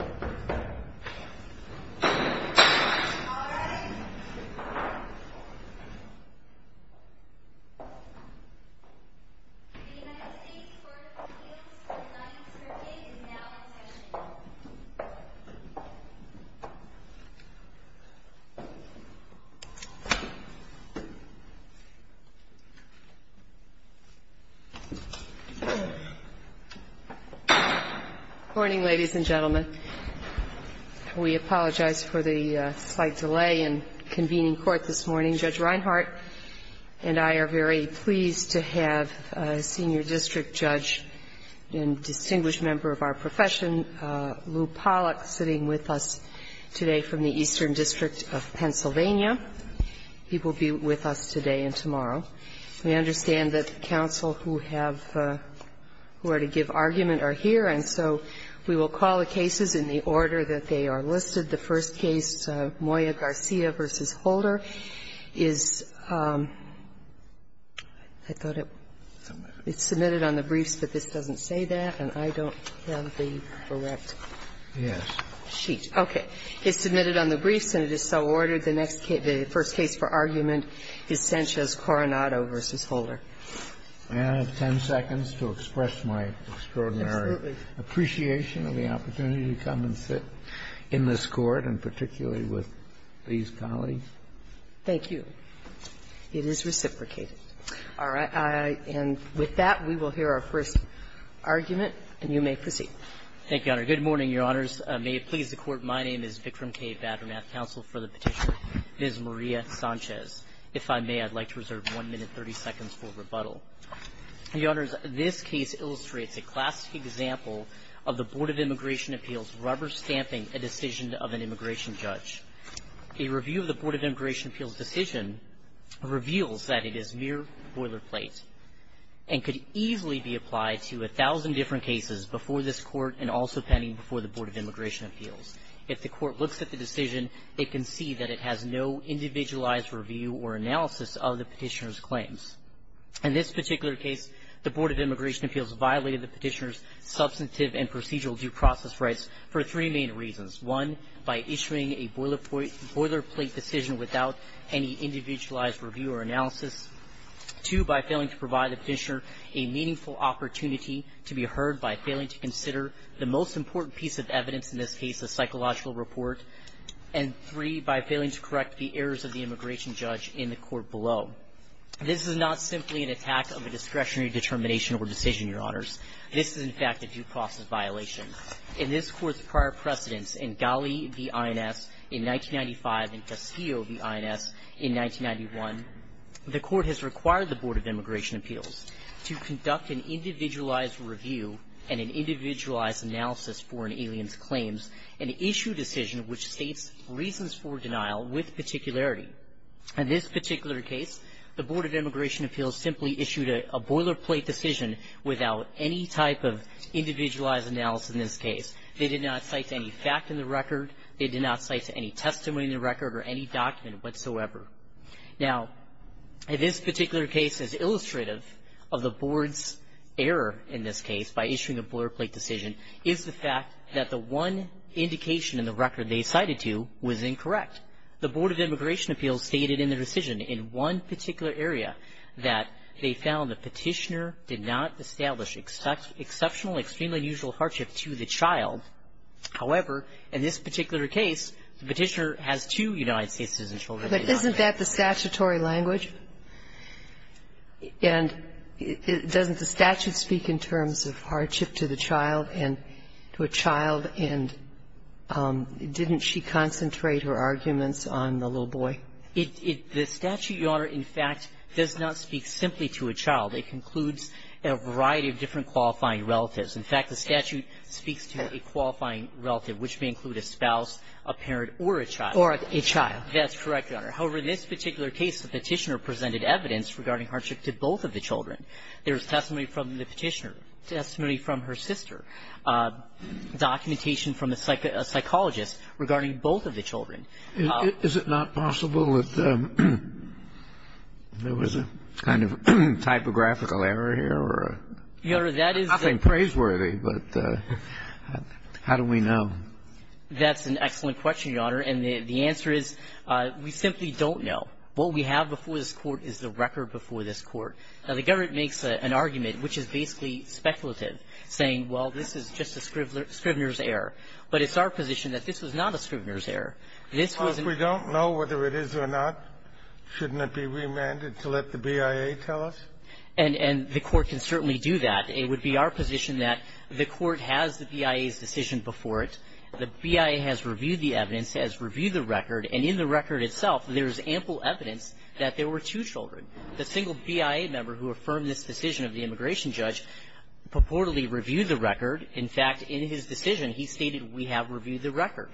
The United States Court of Appeals for the Ninth Circuit is now in session. Good morning, ladies and gentlemen. We apologize for the slight delay in convening court this morning. Judge Reinhart and I are very pleased to have a senior district judge and distinguished member of our profession, Lew Pollack, sitting with us today from the Eastern District of Pennsylvania. He will be with us today and tomorrow. We understand that counsel who have the – who are to give argument are here, and so we will call the cases in the order that they are listed. The first case, Moya Garcia v. Holder, is – I thought it – it's submitted on the briefs, but this doesn't say that, and I don't have the correct sheet. Okay. It's submitted on the briefs, and it is so ordered. The next case – the first case for argument is Sanchez-Coronado v. Holder. May I have 10 seconds to express my extraordinary appreciation of the opportunity to come and sit in this Court, and particularly with these colleagues? Thank you. It is reciprocated. All right. And with that, we will hear our first argument, and you may proceed. Thank you, Your Honor. Good morning, Your Honors. May it please the Court, my name is Vikram K. Badramath, counsel for the Petitioner, Ms. Maria Sanchez. If I may, I'd like to reserve 1 minute 30 seconds for rebuttal. Your Honors, this case illustrates a classic example of the Board of Immigration Appeals rubber-stamping a decision of an immigration judge. A review of the Board of Immigration Appeals decision reveals that it is mere boilerplate and could easily be applied to 1,000 different cases before this Court and also pending before the Board of Immigration Appeals. If the Court looks at the decision, it can see that it has no individualized review or analysis of the Petitioner's claims. In this particular case, the Board of Immigration Appeals violated the Petitioner's substantive and procedural due process rights for three main reasons. One, by issuing a boilerplate decision without any individualized review or analysis. Two, by failing to provide the Petitioner a meaningful opportunity to be heard by failing to consider the most important piece of evidence, in this case, a psychological report. And three, by failing to correct the errors of the immigration judge in the Court below. This is not simply an attack of a discretionary determination or decision, Your Honors. This is, in fact, a due process violation. In this Court's prior precedents, in Ghali v. INS in 1995 and Castillo v. INS in 1991, the Court has required the Board of Immigration Appeals to conduct an individualized review and an individualized analysis for an alien's claims and issue a decision which states reasons for denial with particularity. In this particular case, the Board of Immigration Appeals simply issued a boilerplate decision without any type of individualized analysis in this case. They did not cite any fact in the record. They did not cite any testimony in the record or any document whatsoever. Now, this particular case is illustrative of the Board's error in this case by issuing a boilerplate decision is the fact that the one indication in the record they cited to was incorrect. The Board of Immigration Appeals stated in the decision in one particular area that they found the petitioner did not establish exceptional, extremely unusual hardship to the child. However, in this particular case, the petitioner has two United States citizen children. But isn't that the statutory language? And doesn't the statute speak in terms of hardship to the child and to a child? And didn't she concentrate her arguments on the little boy? The statute, Your Honor, in fact, does not speak simply to a child. It includes a variety of different qualifying relatives. In fact, the statute speaks to a qualifying relative, which may include a spouse, a parent, or a child. Or a child. That's correct, Your Honor. However, in this particular case, the petitioner presented evidence regarding hardship to both of the children. There's testimony from the petitioner, testimony from her sister, documentation from a psychologist regarding both of the children. Is it not possible that there was a kind of typographical error here? Your Honor, that is the --- I'm not being praiseworthy, but how do we know? That's an excellent question, Your Honor. And the answer is we simply don't know. What we have before this Court is the record before this Court. Now, the government makes an argument, which is basically speculative, saying, well, this is just a scrivener's error. But it's our position that this was not a scrivener's error. This was an -- Well, if we don't know whether it is or not, shouldn't it be remanded to let the BIA tell us? And the Court can certainly do that. It would be our position that the Court has the BIA's decision before it. The BIA has reviewed the evidence, has reviewed the record. And in the record itself, there's ample evidence that there were two children. The single BIA member who affirmed this decision of the immigration judge purportedly reviewed the record. In fact, in his decision, he stated, we have reviewed the record.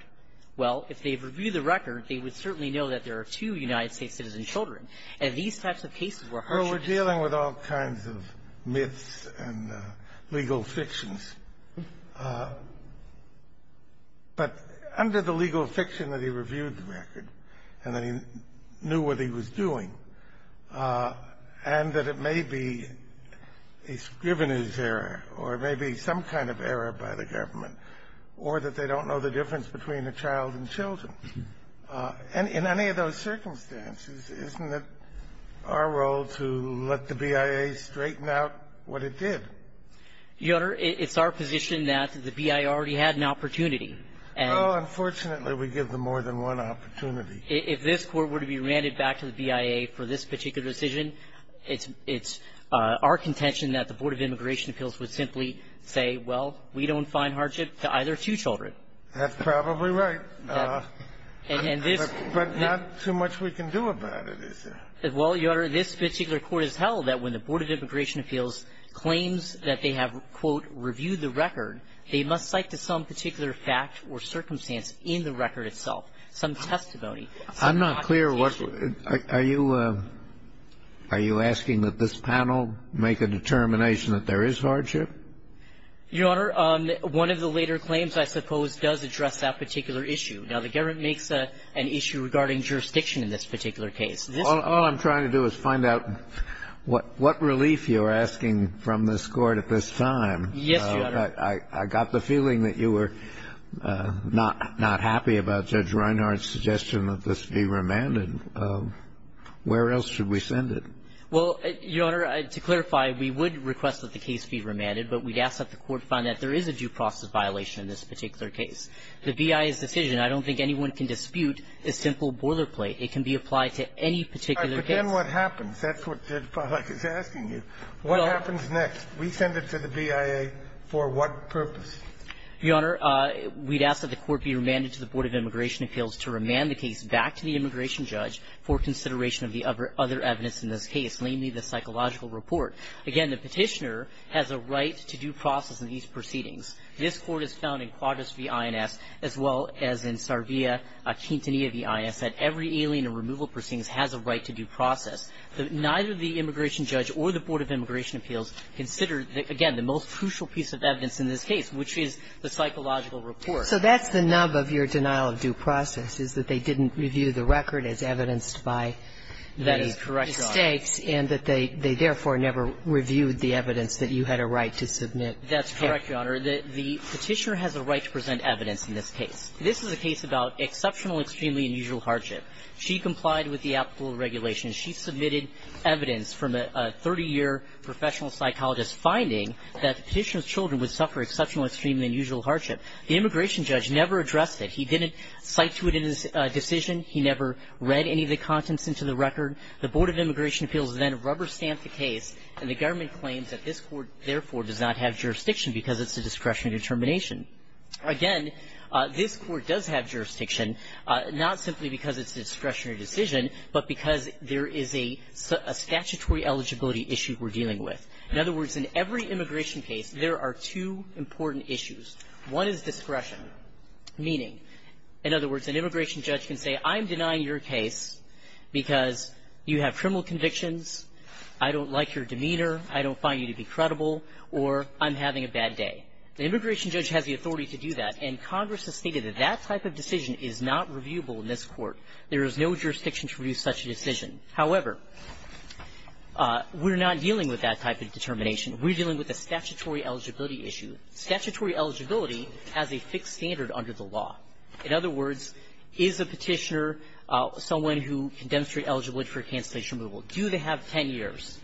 Well, if they've reviewed the record, they would certainly know that there are two United States citizen children. And these types of cases were harshly --- Well, we're dealing with all kinds of myths and legal fictions. But under the legal fiction that he reviewed the record and that he knew what he was doing, and that it may be a scrivener's error or maybe some kind of error by the government or that they don't know the difference between a child and children, in any of those circumstances, isn't it our role to let the BIA straighten out what it did? Your Honor, it's our position that the BIA already had an opportunity. And unfortunately, we give them more than one opportunity. If this Court were to be remanded back to the BIA for this particular decision, it's our contention that the Board of Immigration Appeals would simply say, well, we don't find hardship to either two children. That's probably right. And this -- But not too much we can do about it, is there? Well, Your Honor, this particular Court has held that when the Board of Immigration Appeals claims that they have, quote, reviewed the record, they must cite to some particular fact or circumstance in the record itself, some testimony. I'm not clear what you're --- are you asking that this panel make a determination that there is hardship? Your Honor, one of the later claims, I suppose, does address that particular issue. Now, the government makes an issue regarding jurisdiction in this particular case. All I'm trying to do is find out what relief you're asking from this Court at this time. Yes, Your Honor. I got the feeling that you were not happy about Judge Reinhardt's suggestion that this be remanded. Where else should we send it? Well, Your Honor, to clarify, we would request that the case be remanded. But we'd ask that the Court find that there is a due process violation in this particular case. The BIA's decision, I don't think anyone can dispute, is simple boilerplate. It can be applied to any particular case. All right. But then what happens? That's what Judge Pollack is asking you. What happens next? We send it to the BIA for what purpose? Your Honor, we'd ask that the Court be remanded to the Board of Immigration Appeals to remand the case back to the immigration judge for consideration of the other evidence in this case, namely the psychological report. Again, the Petitioner has a right to due process in these proceedings. This Court has found in Quadris v. INS, as well as in Sarvia-Quintanilla v. INS, that every alien and removal proceedings has a right to due process. Neither the immigration judge or the Board of Immigration Appeals consider, again, the most crucial piece of evidence in this case, which is the psychological report. So that's the nub of your denial of due process, is that they didn't review the record as evidenced by the mistakes. That is correct, Your Honor. And that they therefore never reviewed the evidence that you had a right to submit. That's correct, Your Honor. The Petitioner has a right to present evidence in this case. This is a case about exceptional, extremely unusual hardship. She complied with the applicable regulations. She submitted evidence from a 30-year professional psychologist finding that the Petitioner's children would suffer exceptional, extremely unusual hardship. The immigration judge never addressed it. He didn't cite to it in his decision. He never read any of the contents into the record. The Board of Immigration Appeals then rubber-stamped the case, and the government claims that this Court, therefore, does not have jurisdiction because it's a discretionary determination. Again, this Court does have jurisdiction, not simply because it's a discretionary decision, but because there is a statutory eligibility issue we're dealing with. In other words, in every immigration case, there are two important issues. One is discretion, meaning, in other words, an immigration judge can say, I'm denying your case because you have criminal convictions, I don't like your demeanor, I don't find you to be credible, or I'm having a bad day. The immigration judge has the authority to do that, and Congress has stated that that type of decision is not reviewable in this Court. There is no jurisdiction to review such a decision. However, we're not dealing with that type of determination. We're dealing with a statutory eligibility issue. Statutory eligibility has a fixed standard under the law. In other words, is a Petitioner someone who can demonstrate eligibility for cancellation removal? Do they have 10 years?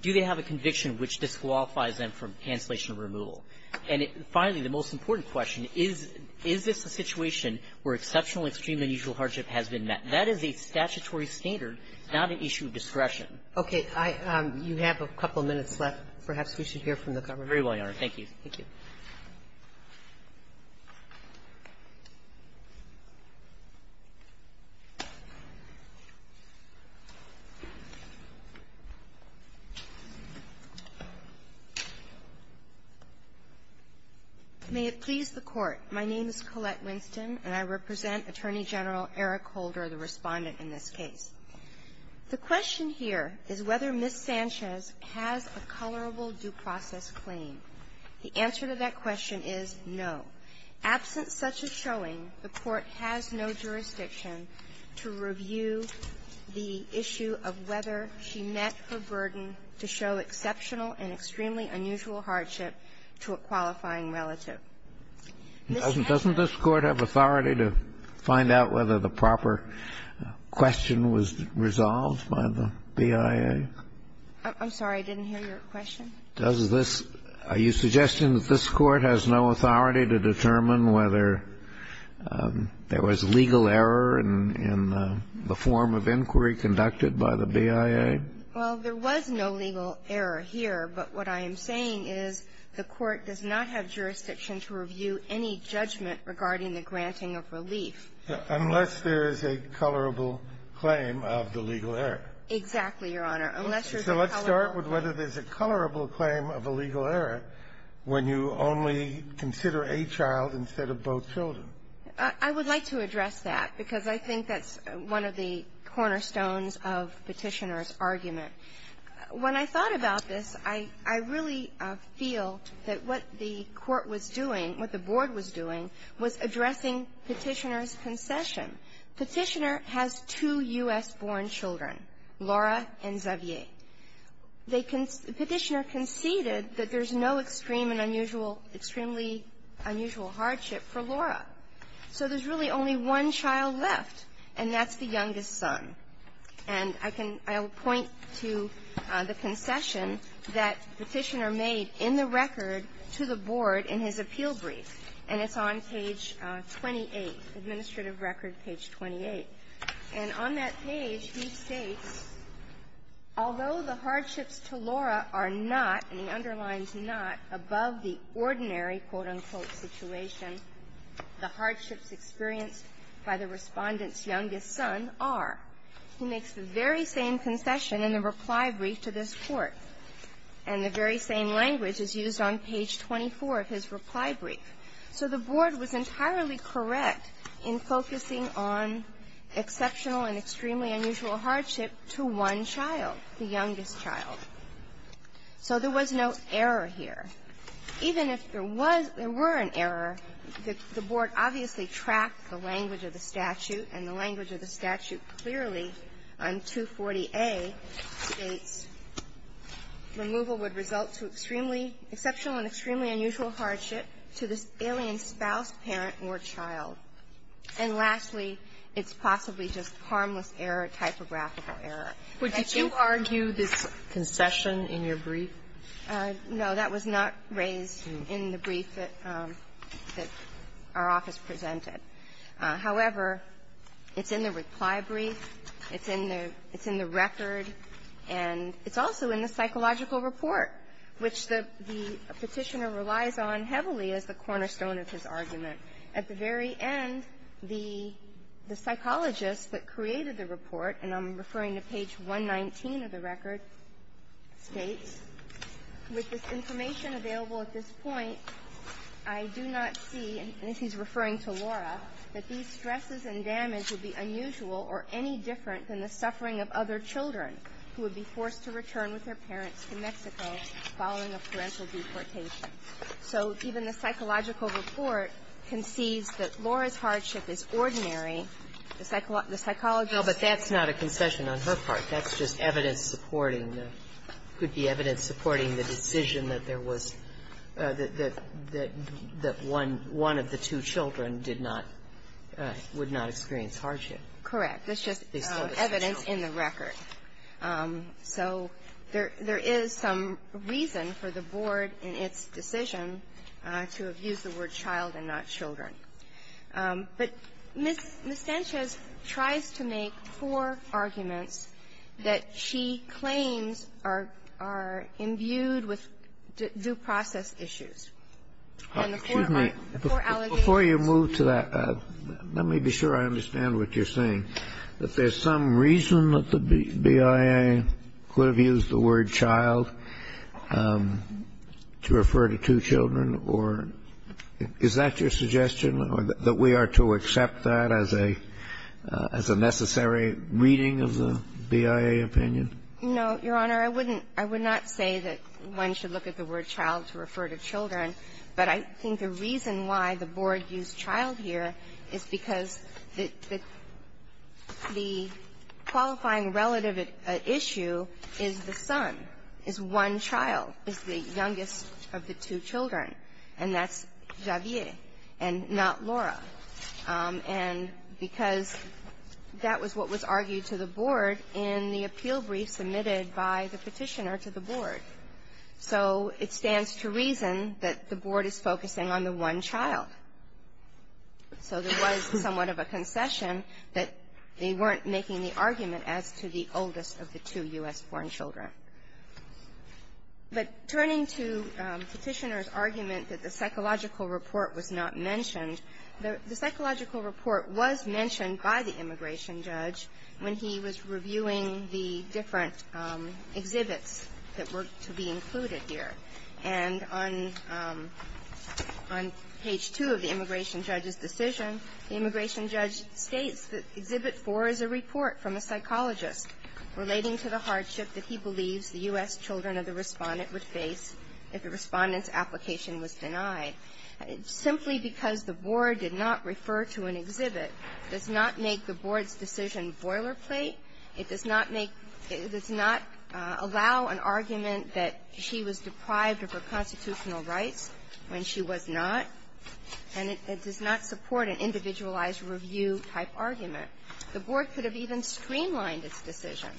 Do they have a conviction which disqualifies them from cancellation removal? And finally, the most important question is, is this a situation where exceptional or extreme unusual hardship has been met? That is a statutory standard, not an issue of discretion. Sotomayor, you have a couple minutes left. Perhaps we should hear from the government. Very well, Your Honor. Thank you. Thank you. May it please the Court. My name is Colette Winston, and I represent Attorney General Eric Holder, the Respondent in this case. The question here is whether Ms. Sanchez has a colorable due process claim. The answer to that question is no. Absent such a showing, the Court has no jurisdiction to review the issue of whether she met her burden to show exceptional and extremely unusual hardship to a qualifying This has no ---- Doesn't this Court have authority to find out whether the proper question was resolved by the BIA? I'm sorry. I didn't hear your question. Does this ---- Are you suggesting that this Court has no authority to determine whether there was legal error in the form of inquiry conducted by the BIA? Well, there was no legal error here, but what I am saying is the Court does not have jurisdiction to review any judgment regarding the granting of relief. Unless there is a colorable claim of the legal error. Unless there's a colorable ---- Okay. So let's start with whether there's a colorable claim of a legal error when you only consider a child instead of both children. I would like to address that, because I think that's one of the cornerstones of Petitioner's argument. When I thought about this, I really feel that what the Court was doing, what the Board was doing, was addressing Petitioner's concession. Petitioner has two U.S.-born children, Laura and Xavier. Petitioner conceded that there's no extreme and unusual, extremely unusual hardship for Laura. So there's really only one child left, and that's the youngest son. And I can ---- I will point to the concession that Petitioner made in the record to the Board in his appeal brief, and it's on page 28, Administrative Record, page 28. And on that page, he states, although the hardships to Laura are not, and he underlines not, above the ordinary, quote, unquote, situation, the hardships experienced by the Respondent's youngest son are. He makes the very same concession in the reply brief to this Court, and the very same language is used on page 24 of his reply brief. So the Board was entirely correct in focusing on exceptional and extremely unusual hardship to one child, the youngest child. So there was no error here. Even if there was or were an error, the Board obviously tracked the language of the statute, and the language of the statute clearly on 240A states removal would result to extremely exceptional and extremely unusual hardship to this alien spouse, parent, or child. And lastly, it's possibly just harmless error, typographical error. But did you argue this concession in your brief? No. That was not raised in the brief that our office presented. However, it's in the reply brief, it's in the record, and it's also in the psychological report, which the Petitioner relies on heavily as the cornerstone of his argument. At the very end, the psychologist that created the report, and I'm referring to page 119 of the record, states, With this information available at this point, I do not see, and this is referring to Laura, that these stresses and damage would be unusual or any different than the suffering of other children who would be forced to return with their parents to Mexico following a parental deportation. So even the psychological report concedes that Laura's hardship is ordinary. The psychologist --- No, but that's not a concession on her part. That's just evidence supporting the -- could be evidence supporting the decision that there was the one of the two children did not, would not experience hardship. Correct. That's just evidence in the record. So there is some reason for the board in its decision to have used the word child and not children. But Ms. Sanchez tries to make four arguments that she claims are imbued with due process issues. And the four are four allegations. Before you move to that, let me be sure I understand what you're saying, that there's some reason that the BIA could have used the word child to refer to two children? Or is that your suggestion, that we are to accept that as a necessary reading of the BIA opinion? No, Your Honor. I wouldn't – I would not say that one should look at the word child to refer to children. But I think the reason why the board used child here is because the qualifying relative issue is the son, is one child, is the youngest of the two children. And that's Javier and not Laura. And because that was what was argued to the board in the appeal brief submitted by the Petitioner to the board. So it stands to reason that the board is focusing on the one child. So there was somewhat of a concession that they weren't making the argument as to the oldest of the two U.S.-born children. But turning to Petitioner's argument that the psychological report was not mentioned, the psychological report was mentioned by the immigration judge when he was reviewing the different exhibits that were to be included here. And on page 2 of the immigration judge's decision, the immigration judge states that Exhibit 4 is a report from a psychologist relating to the hardship that he believes the U.S. children of the respondent would face if the respondent's application was denied. Simply because the board did not refer to an exhibit does not make the board's decision a boilerplate. It does not make – it does not allow an argument that she was deprived of her constitutional rights when she was not. And it does not support an individualized review-type argument. The board could have even streamlined its decision.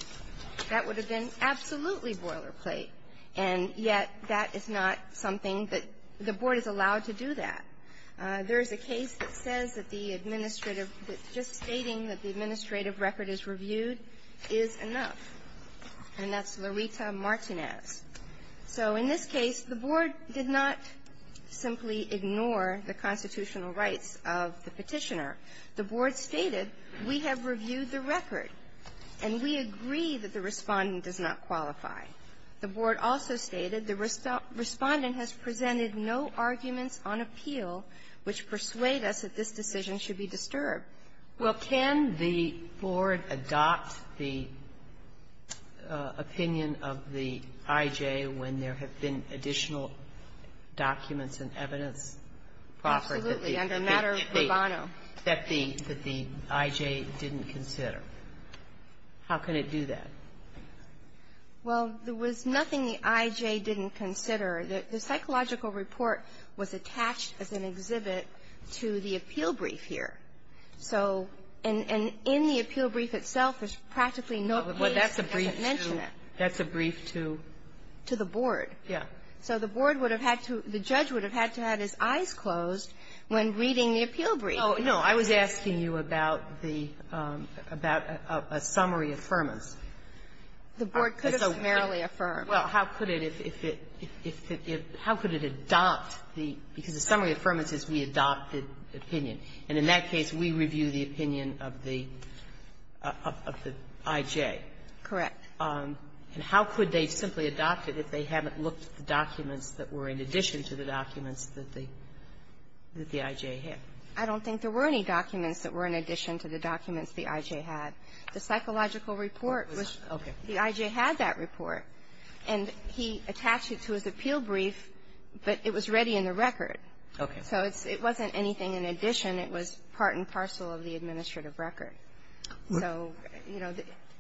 That would have been absolutely boilerplate. And yet that is not something that the board is allowed to do that. There is a case that says that the administrative – that just stating that the administrative record is reviewed is enough. And that's Loretta Martinez. So in this case, the board did not simply ignore the constitutional rights of the Petitioner. The board stated, we have reviewed the record, and we agree that the respondent does not qualify. The board also stated, the respondent has presented no arguments on appeal which persuade us that this decision should be disturbed. Well, can the board adopt the opinion of the I.J. when there have been additional documents and evidence proffered that the – that the I.J. didn't consider? How can it do that? Well, there was nothing the I.J. didn't consider. The psychological report was attached as an exhibit to the appeal brief here. So – and in the appeal brief itself, there's practically no case that doesn't mention it. That's a brief to? To the board. Yeah. So the board would have had to – the judge would have had to have his eyes closed when reading the appeal brief. No. I was asking you about the – about a summary affirmance. The board could have summarily affirmed. Well, how could it, if it – if it – how could it adopt the – because the summary affirmance is we adopted opinion, and in that case, we review the opinion of the – of the I.J. Correct. And how could they simply adopt it if they haven't looked at the documents that were in addition to the documents that the – that the I.J. had? I don't think there were any documents that were in addition to the documents the I.J. had. The psychological report was – Okay. The I.J. had that report, and he attached it to his appeal brief, but it was ready in the record. Okay. So it's – it wasn't anything in addition. It was part and parcel of the administrative record. So, you know,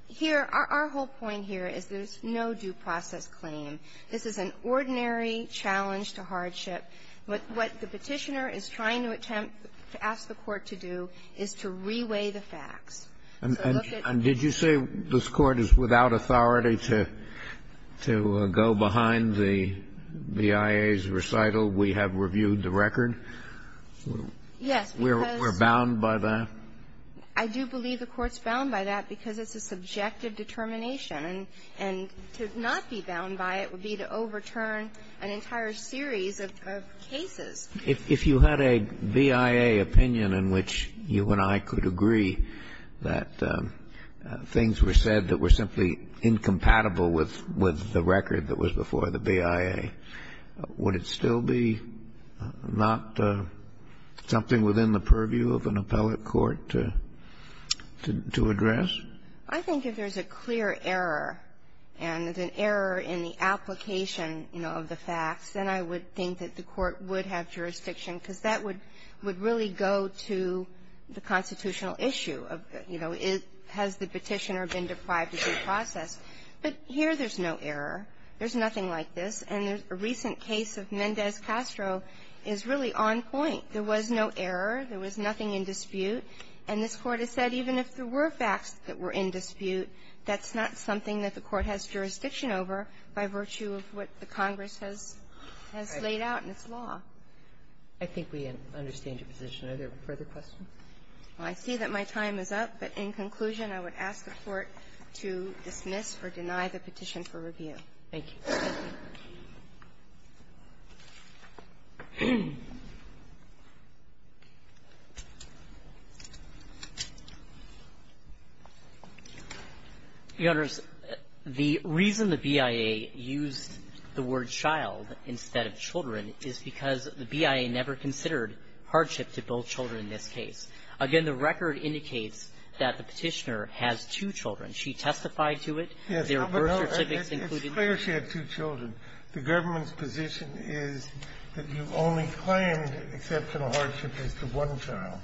here – our whole point here is there's no due process claim. This is an ordinary challenge to hardship. But what the Petitioner is trying to attempt – to ask the Court to do is to reweigh the facts. And did you say this Court is without authority to go behind the BIA's recital? We have reviewed the record. Yes, because – We're bound by that? I do believe the Court's bound by that because it's a subjective determination. And to not be bound by it would be to overturn an entire series of cases. If you had a BIA opinion in which you and I could agree that things were said that were simply incompatible with the record that was before the BIA, would it still be not something within the purview of an appellate court to address? I think if there's a clear error and an error in the application, you know, of the facts, then I would think that the Court would have jurisdiction because that would really go to the constitutional issue of, you know, has the Petitioner been deprived of due process. But here there's no error. There's nothing like this. And a recent case of Mendez-Castro is really on point. There was no error. There was nothing in dispute. And this Court has said even if there were facts that were in dispute, that's not something that the Court has jurisdiction over by virtue of what the Congress has laid out in its law. I think we understand your position. Are there further questions? I see that my time is up. But in conclusion, I would ask the Court to dismiss or deny the petition for review. Thank you. The reason the BIA used the word child instead of children is because the BIA never considered hardship to both children in this case. Again, the record indicates that the Petitioner has two children. She testified to it. Her birth certificates included. It's clear she had two children. The government's position is that you only claim exceptional hardship is to one child.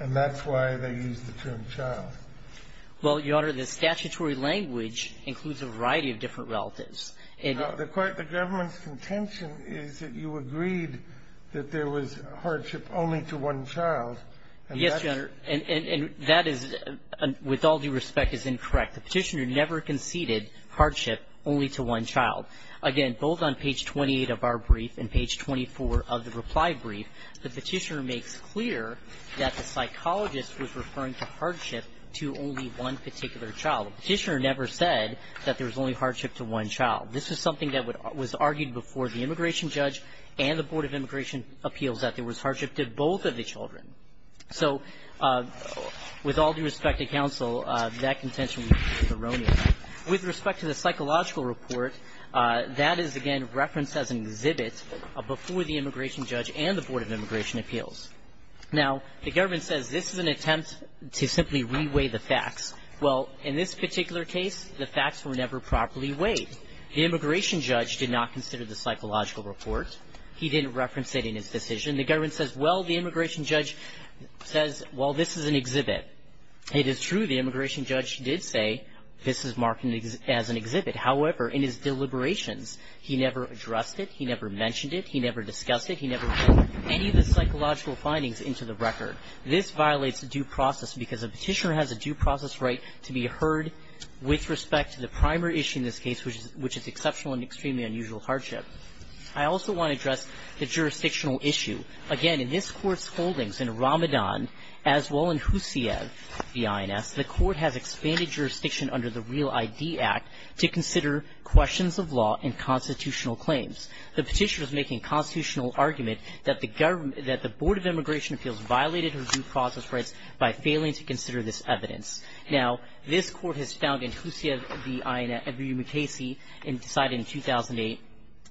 And that's why they used the term child. Well, Your Honor, the statutory language includes a variety of different relatives. The government's contention is that you agreed that there was hardship only to one child. Yes, Your Honor. And that is, with all due respect, is incorrect. The Petitioner never conceded hardship only to one child. Again, both on page 28 of our brief and page 24 of the reply brief, the Petitioner makes clear that the psychologist was referring to hardship to only one particular child. The Petitioner never said that there was only hardship to one child. This is something that was argued before the immigration judge and the Board of Immigration Appeals that there was hardship to both of the children. So with all due respect to counsel, that contention is erroneous. With respect to the psychological report, that is, again, referenced as an exhibit before the immigration judge and the Board of Immigration Appeals. Now, the government says this is an attempt to simply reweigh the facts. Well, in this particular case, the facts were never properly weighed. The immigration judge did not consider the psychological report. He didn't reference it in his decision. The government says, well, the immigration judge says, well, this is an exhibit. It is true the immigration judge did say this is marked as an exhibit. However, in his deliberations, he never addressed it. He never mentioned it. He never discussed it. He never put any of the psychological findings into the record. This violates due process because a petitioner has a due process right to be heard with respect to the primary issue in this case, which is exceptional and extremely unusual hardship. I also want to address the jurisdictional issue. Again, in this Court's holdings in Ramadan, as well in Huseyev v. INS, the Court has expanded jurisdiction under the Real ID Act to consider questions of law and constitutional claims. The petitioner is making a constitutional argument that the Board of Immigration Appeals violated her due process rights by failing to consider this evidence. Now, this Court has found in Huseyev v. INS, Edwin Mukasey, and decided in 2008,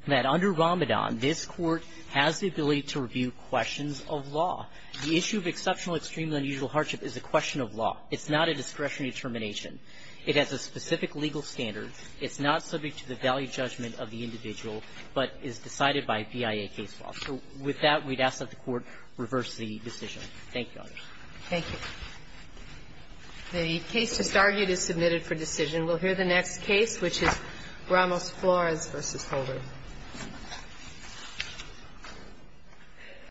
that under Ramadan, this Court has the ability to review questions of law. The issue of exceptional, extremely unusual hardship is a question of law. It's not a discretionary determination. It has a specific legal standard. It's not subject to the value judgment of the individual, but is decided by BIA case law. So with that, we'd ask that the Court reverse the decision. Thank you, Your Honor. Thank you. The case just argued is submitted for decision. We'll hear the next case, which is Ramos-Flores v. Holder.